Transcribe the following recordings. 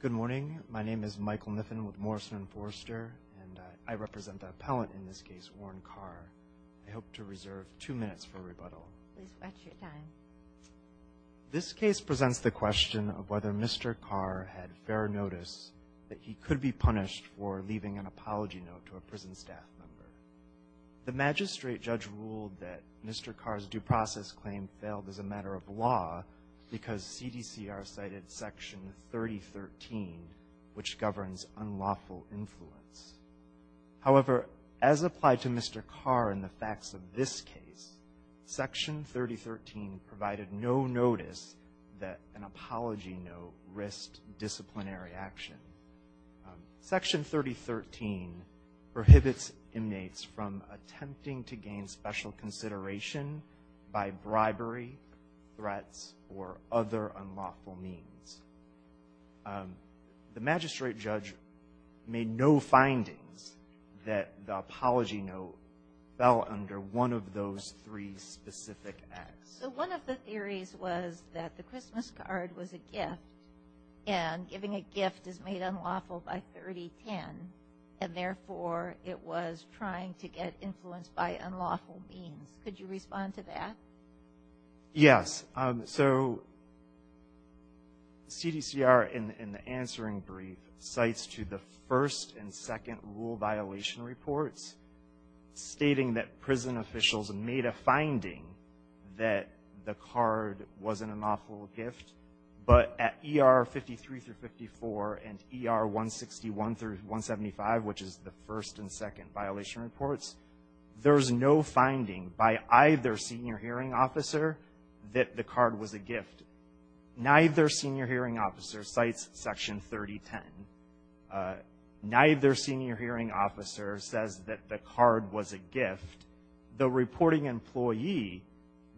Good morning, my name is Michael Kniffen with Morrison & Forster, and I represent the appellant in this case, Orrin Carr. I hope to reserve two minutes for rebuttal. This case presents the question of whether Mr. Carr had fair notice that he could be punished for leaving an apology note to a prison staff member. The magistrate judge ruled that Mr. Carr's due process claim failed as a matter of law because CDCR cited Section 3013, which governs unlawful influence. However, as applied to Mr. Carr in the facts of this case, Section 3013 provided no notice that an apology note risked disciplinary action. Section 3013 prohibits inmates from attempting to gain special consideration by bribery, threats, or other unlawful means. The magistrate judge made no findings that the apology note fell under one of those three specific acts. So one of the theories was that the Christmas card was a gift, and giving a gift is made unlawful by 3010, and therefore it was trying to get influence by unlawful means. Could you respond to that? Yes. So CDCR, in the answering brief, cites to the first and second rule violation reports, stating that prison officials made a finding that the card wasn't an unlawful gift. But at ER 53 through 54 and ER 161 through 175, which is the first and second violation reports, there's no finding by either senior hearing officer that the card was a gift. Neither senior hearing officer cites Section 3010. Neither senior hearing officer says that the card was a gift. The reporting employee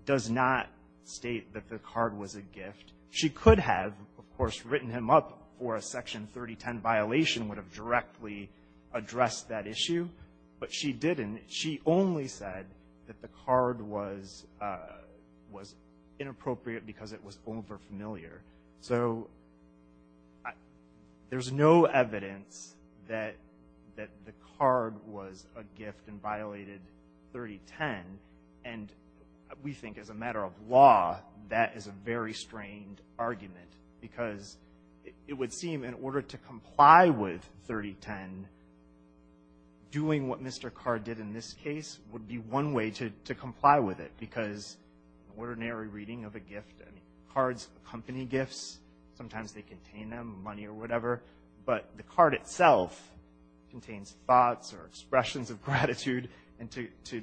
does not state that the card was a gift. She could have, of course, written him up for a Section 3010 violation would have directly addressed that issue, but she didn't. She only said that the card was inappropriate because it was over-familiar. So there's no evidence that the card was a gift and violated 3010. And we think as a matter of law, that is a very strained argument, because it doing what Mr. Card did in this case would be one way to comply with it, because ordinary reading of a gift, cards, company gifts, sometimes they contain them, money or whatever, but the card itself contains thoughts or expressions of gratitude. And to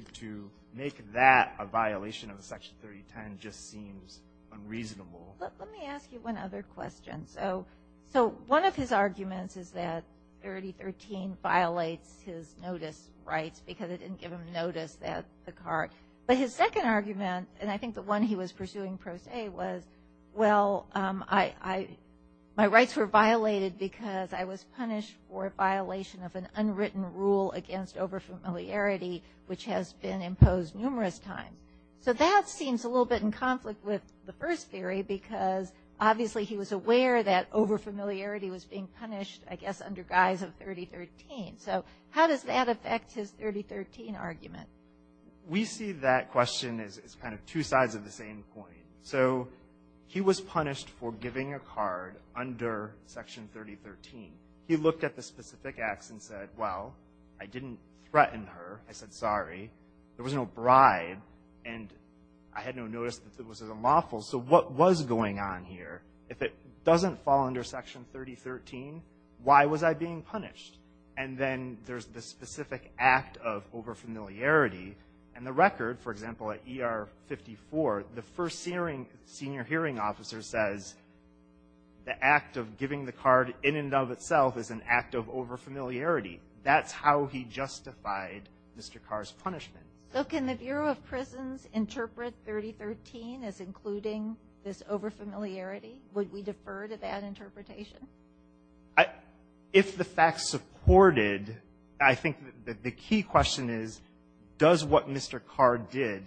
make that a violation of the Section 3010 just seems unreasonable. Let me ask you one other question. So one of his arguments is that 3013 violates his notice rights because it didn't give him notice that the card. But his second argument, and I think the one he was pursuing pro se, was, well, my rights were violated because I was punished for a violation of an unwritten rule against over-familiarity, which has been imposed numerous times. So that seems a little bit in the way that over-familiarity was being punished, I guess, under guise of 3013. So how does that affect his 3013 argument? We see that question as kind of two sides of the same coin. So he was punished for giving a card under Section 3013. He looked at the specific acts and said, well, I didn't threaten her. I said, sorry. There was no bribe. And I had no notice that was unlawful. So what was going on here? If it doesn't fall under Section 3013, why was I being punished? And then there's the specific act of over-familiarity. And the record, for example, at ER 54, the first senior hearing officer says the act of giving the card in and of itself is an act of over-familiarity. That's how he justified Mr. Carr's punishment. So can the Bureau of Prisons interpret 3013 as including this over-familiarity? Would we defer to that interpretation? If the facts supported, I think the key question is, does what Mr. Carr did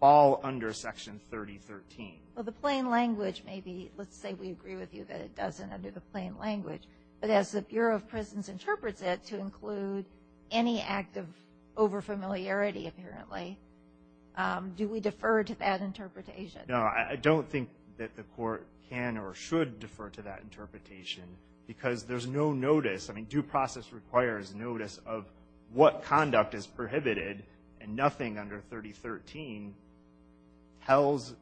fall under Section 3013? Well, the plain language may be, let's say we agree with you that it doesn't under the plain language. But as the Bureau of Prisons interprets it to include any act of over-familiarity apparently, do we defer to that interpretation? No, I don't think that the court can or should defer to that interpretation because there's no notice. I mean, due process requires notice of what conduct is prohibited. And nothing under 3013 tells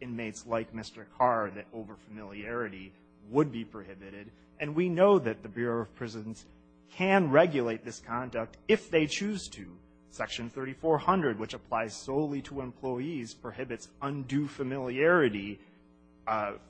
inmates like Mr. Carr that over-familiarity would be prohibited. And we know that the Bureau of Prisons can regulate this conduct if they choose to. Section 3400, which applies solely to employees, prohibits undue familiarity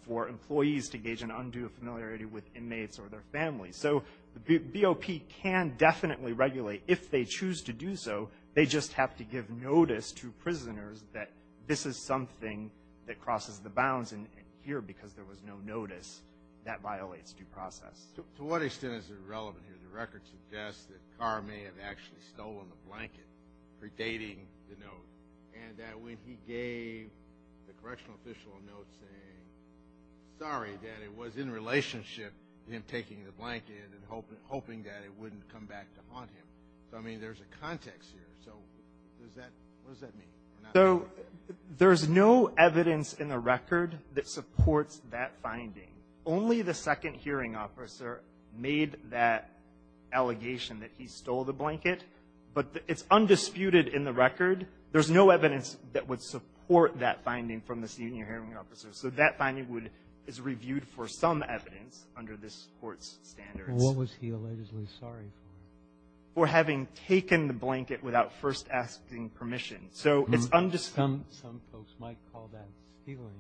for employees to engage in undue familiarity with inmates or their families. So the BOP can definitely regulate. If they choose to do so, they just have to give notice to prisoners that this is something that crosses the bounds. And here, because there was no notice, that violates due process. To what extent is it relevant here? The record suggests that Carr may have actually stolen the blanket predating the note, and that when he gave the correctional official a note saying, sorry, that it was in relationship to him taking the blanket and hoping that it wouldn't come back to haunt him. So, I mean, there's a context here. So does that – what does that mean? So there's no evidence in the record that supports that finding. Only the second hearing officer made that allegation that he stole the blanket. But it's undisputed in the record. There's no evidence that would support that finding from the senior hearing officer. So that finding would – is reviewed for some evidence under this Court's standards. Well, what was he allegedly sorry for? For having taken the blanket without first asking permission. So it's undisputed. Some folks might call that stealing.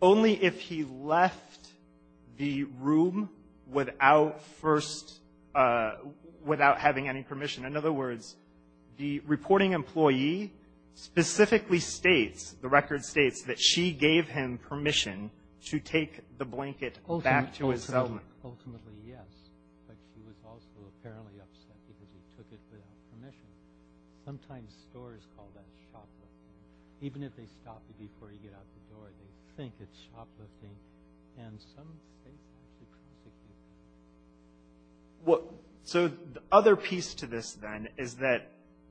Only if he left the room without first – without having any permission. In other words, the reporting employee specifically states, the record states, that she gave him permission to take the blanket back to his cellmate. Ultimately, yes. But she was also apparently upset because he took it without permission. Sometimes stores call that shoplifting. Even if they stop you before you get out the door, they think it's shoplifting. And some states might be particularly – What – so the other piece to this, then, is that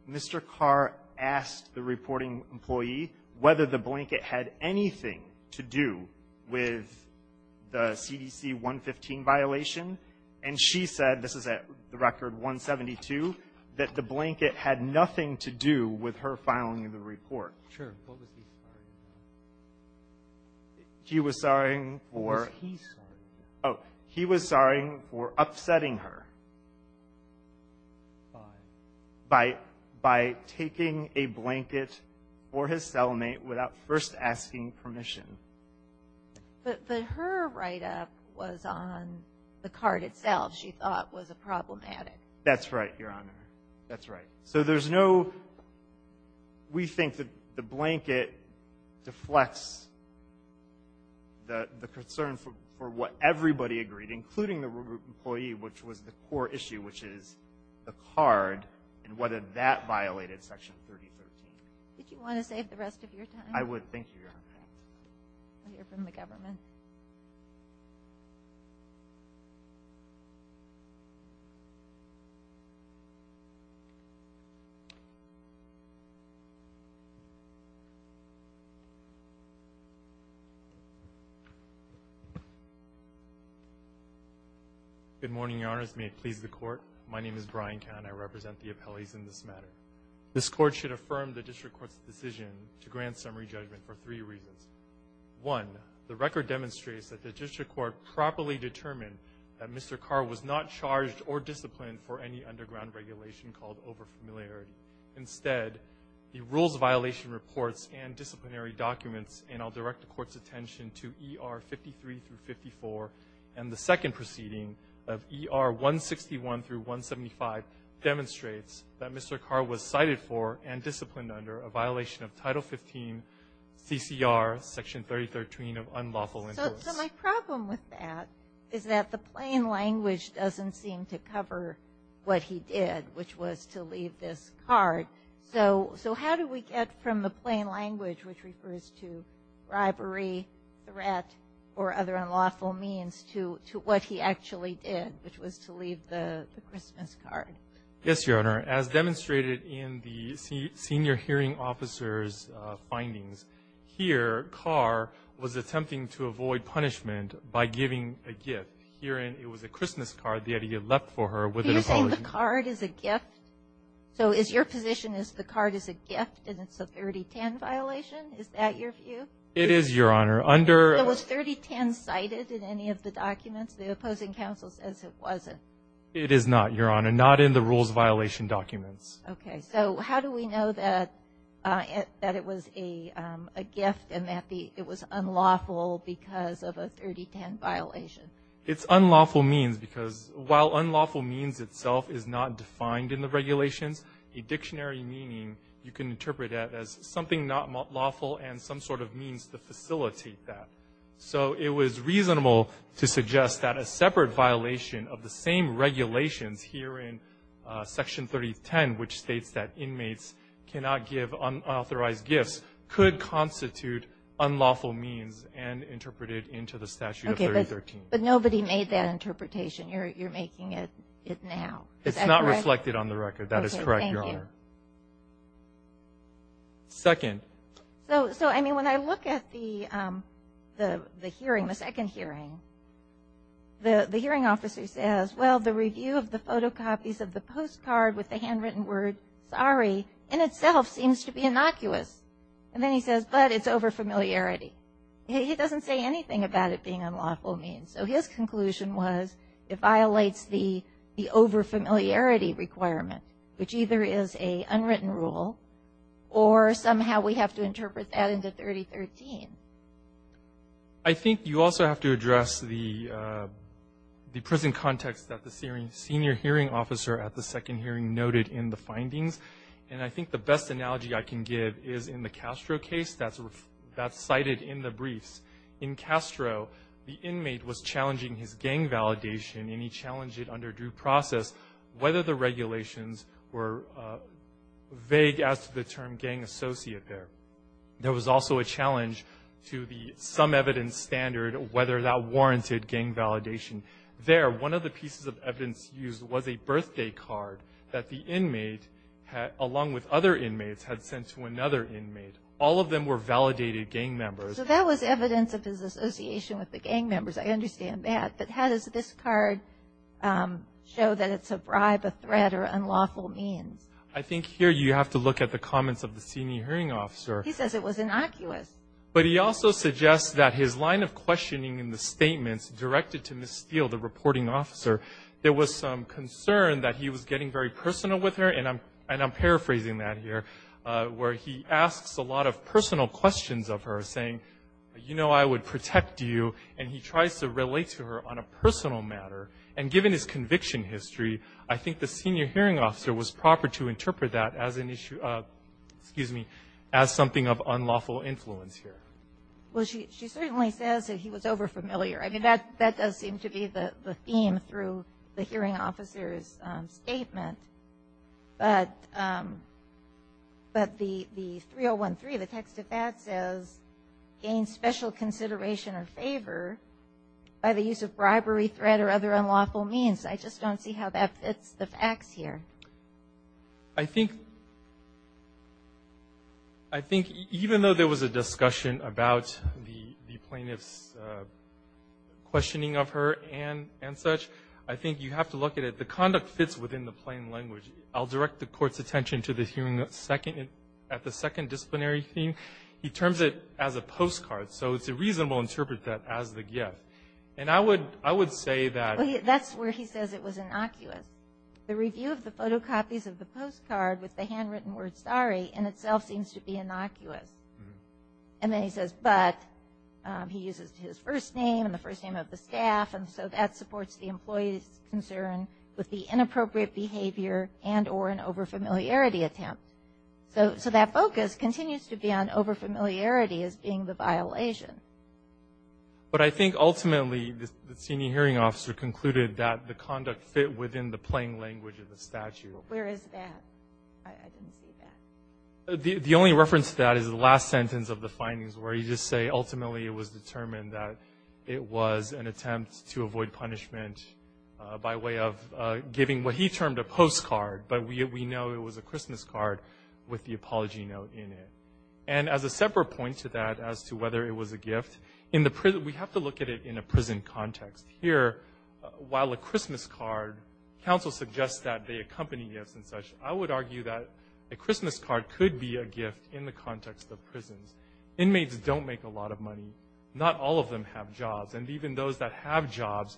Mr. Carr asked the reporting employee whether the blanket had anything to do with the CDC 115 violation. And she said – this is at the record 172 – that the blanket had nothing to do with her filing the report. Sure. What was he sorry about? He was sorry for – What was he sorry about? Oh, he was sorry for upsetting her. By? By – by taking a blanket for his cellmate without first asking permission. But her write-up was on the card itself, she thought, was problematic. That's right, Your Honor. That's right. So there's no – we think that the blanket deflects the concern for what everybody agreed, including the reporting employee, which was the core issue, which is the card, and whether that violated Section 3013. Did you want to save the rest of your time? I would. Thank you, Your Honor. Okay. We'll hear from the government. Okay. Good morning, Your Honors. May it please the Court, my name is Brian Kahn. I represent the appellees in this matter. This Court should affirm the District Court's decision to grant Mr. Kerr was cited for and disciplined under a violation of Title 15, CCR, Section 3013 of the Unlawful Interest. So my problem with that is that the plain language doesn't seem to cover what he did, which was to leave this card. So how do we get from the plain language, which refers to bribery, threat, or other unlawful means, to what he actually did, which was to leave the Christmas card? Yes, Your Honor. As demonstrated in the senior hearing officer's findings, here, Mr. Kerr was attempting to avoid punishment by giving a gift. Herein, it was a Christmas card that he had left for her with an apology. Are you saying the card is a gift? So is your position is the card is a gift and it's a 3010 violation? Is that your view? It is, Your Honor. Under — Was 3010 cited in any of the documents? The opposing counsel says it wasn't. It is not, Your Honor. Not in the rules violation documents. Okay. So how do we know that it was a gift and that it was unlawful because of a 3010 violation? It's unlawful means because while unlawful means itself is not defined in the regulations, a dictionary meaning you can interpret that as something not lawful and some sort of means to facilitate that. So it was reasonable to suggest that a separate violation of the same regulations here in Section 3010, which states that inmates cannot give unauthorized gifts, could constitute unlawful means and interpret it into the statute of 3013. But nobody made that interpretation. You're making it now. It's not reflected on the record. That is correct, Your Honor. Okay. Thank you. Second. So, I mean, when I look at the hearing, the second hearing, the hearing officer says, well, the review of the photocopies of the postcard with the handwritten word sorry in itself seems to be innocuous. And then he says, but it's over familiarity. He doesn't say anything about it being unlawful means. So his conclusion was it violates the over familiarity requirement, which either is a unwritten rule or somehow we have to interpret that into 3013. I think you also have to address the prison context that the senior hearing officer at the second hearing noted in the findings. And I think the best analogy I can give is in the Castro case that's cited in the briefs. In Castro, the inmate was challenging his gang validation and he challenged it under due process, whether the regulations were vague as to the term gang associate there. There was also a challenge to the some evidence standard, whether that warranted gang validation. There, one of the pieces of evidence used was a birthday card that the inmate, along with other inmates, had sent to another inmate. All of them were validated gang members. So that was evidence of his association with the gang members. I understand that. But how does this card show that it's a bribe, a threat, or unlawful means? I think here you have to look at the comments of the senior hearing officer. He says it was innocuous. But he also suggests that his line of questioning in the statements directed to Ms. Steele, the reporting officer, there was some concern that he was getting very personal with her, and I'm paraphrasing that here, where he asks a lot of personal questions of her, saying, you know I would protect you, and he tries to relate to her on a personal matter. And given his conviction history, I think the senior hearing officer was proper to interpret that as an issue, excuse me, as something of unlawful influence here. Well, she certainly says that he was over-familiar. I mean, that does seem to be the theme through the hearing officer's statement. But the 3013, the text of that says, gain special consideration or favor by the use of bribery, threat, or other unlawful means. I just don't see how that fits the facts here. I think even though there was a discussion about the plaintiff's questioning of her and such, I think you have to look at it. The conduct fits within the plain language. I'll direct the Court's attention to the hearing at the second disciplinary theme. He terms it as a postcard, so it's a reasonable interpretation as the gift. Photocopies of the postcard with the handwritten word, sorry, in itself seems to be innocuous. And then he says, but, he uses his first name and the first name of the staff, and so that supports the employee's concern with the inappropriate behavior and or an over-familiarity attempt. So that focus continues to be on over-familiarity as being the violation. But I think ultimately the senior hearing officer concluded that the conduct fit within the plain language of the statute. Where is that? I didn't see that. The only reference to that is the last sentence of the findings where you just say ultimately it was determined that it was an attempt to avoid punishment by way of giving what he termed a postcard, but we know it was a Christmas card with the apology note in it. And as a separate point to that as to whether it was a gift, we have to look at it in a way that a Christmas card, counsel suggests that they accompany gifts and such, I would argue that a Christmas card could be a gift in the context of prisons. Inmates don't make a lot of money. Not all of them have jobs. And even those that have jobs,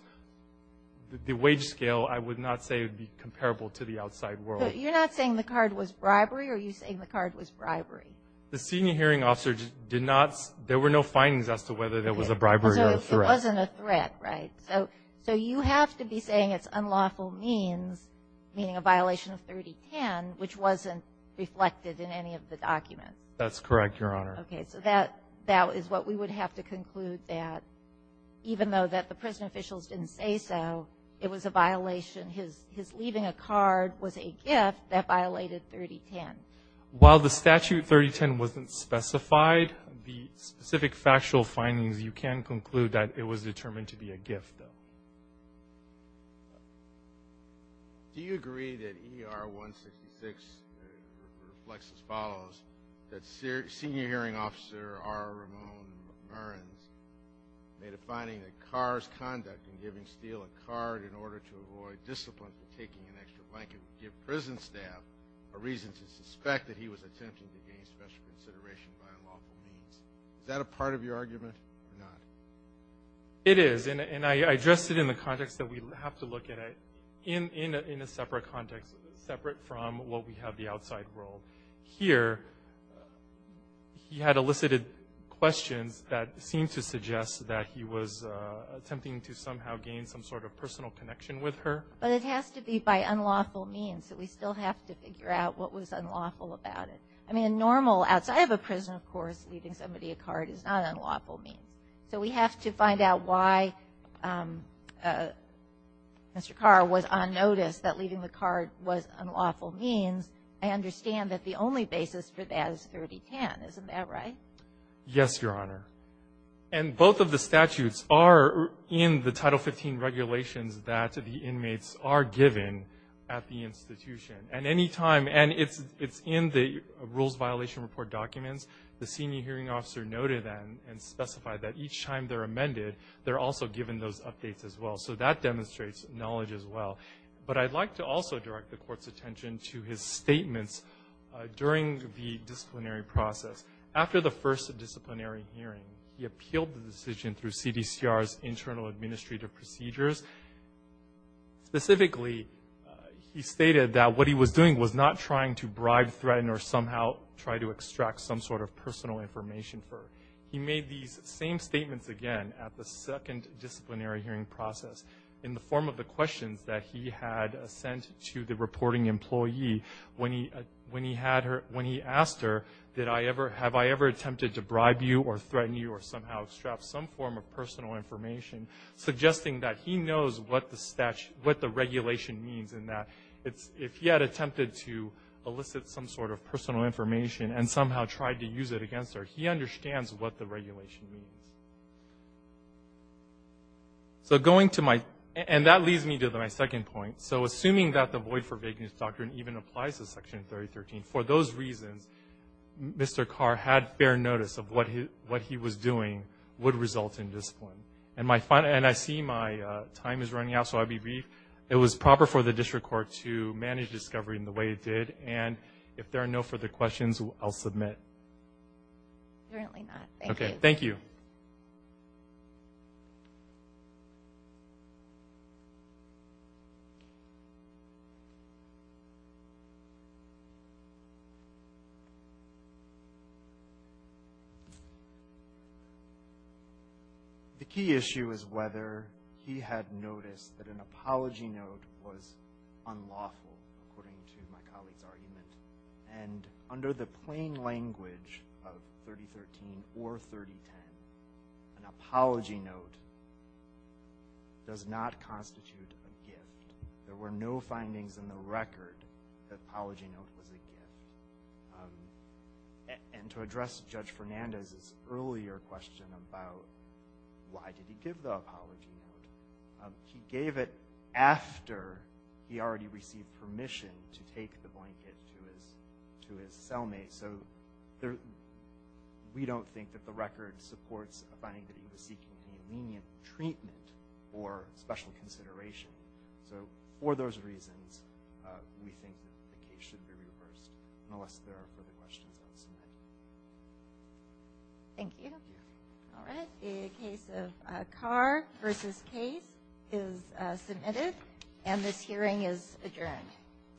the wage scale I would not say would be comparable to the outside world. But you're not saying the card was bribery or are you saying the card was bribery? The senior hearing officer did not, there were no findings as to whether there was a bribery or a threat. It wasn't a threat, right? So you have to be saying it's unlawful means, meaning a violation of 3010, which wasn't reflected in any of the documents. That's correct, Your Honor. Okay. So that is what we would have to conclude that even though that the prison officials didn't say so, it was a violation. His leaving a card was a gift that violated 3010. While the statute 3010 wasn't specified, the specific factual findings you can conclude that it was determined to be a gift, though. Do you agree that ER 166 reflects as follows, that senior hearing officer R. Ramon Mearns made a finding that car's conduct in giving steel a card in order to avoid discipline for taking an extra blanket would give prison staff a reason to suspect that he was attempting to gain special consideration by unlawful means? Is that a part of your argument or not? It is. And I addressed it in the context that we have to look at it in a separate context, separate from what we have the outside world. Here, he had elicited questions that seemed to suggest that he was attempting to somehow gain some sort of personal connection with her. But it has to be by unlawful means. So we still have to figure out what was unlawful about it. I mean, normal, outside of a prison, of course, leaving somebody a card is not unlawful means. So we have to find out why Mr. Carr was on notice that leaving the card was unlawful means. I understand that the only basis for that is 3010. Isn't that right? Yes, Your Honor. And both of the statutes are in the Title 15 regulations that the Court has. And in the Rules Violation Report documents, the senior hearing officer noted and specified that each time they're amended, they're also given those updates as well. So that demonstrates knowledge as well. But I'd like to also direct the Court's attention to his statements during the disciplinary process. After the first disciplinary hearing, he appealed the decision through CDCR's internal administrative procedures. Specifically, he stated that what he was doing was not trying to bribe, threaten, or somehow try to extract some sort of personal information. He made these same statements again at the second disciplinary hearing process in the form of the questions that he had sent to the reporting employee when he asked her, have I ever attempted to bribe you or threaten you or somehow extract some form of personal information, suggesting that he knows what the regulation means and that if he had attempted to elicit some sort of personal information and somehow tried to use it against her, he understands what the regulation means. And that leads me to my second point. So assuming that the void for vagueness doctrine even applies to Section 3013, for those reasons, Mr. Carr had fair notice of what he was doing would result in discipline. And I see my time is running out, so I'll be brief. It was proper for the District Court to manage discovery in the way it did. And if there are no further questions, I'll submit. Okay. Thank you. The key issue is whether he had noticed that an apology note was unlawful, according to my language of 3013 or 3010. An apology note does not constitute a gift. There were no findings in the record that apology note was a gift. And to address Judge Fernandez's earlier question about why did he give the apology note, he gave it after he already received permission to take the blanket to his cellmate. So we don't think that the record supports finding that he was seeking any lenient treatment or special consideration. So for those reasons, we think that the case should be reversed, unless there are further questions, I'll submit. Thank you. All right. The case of Carr v. Case is submitted, and this hearing is adjourned.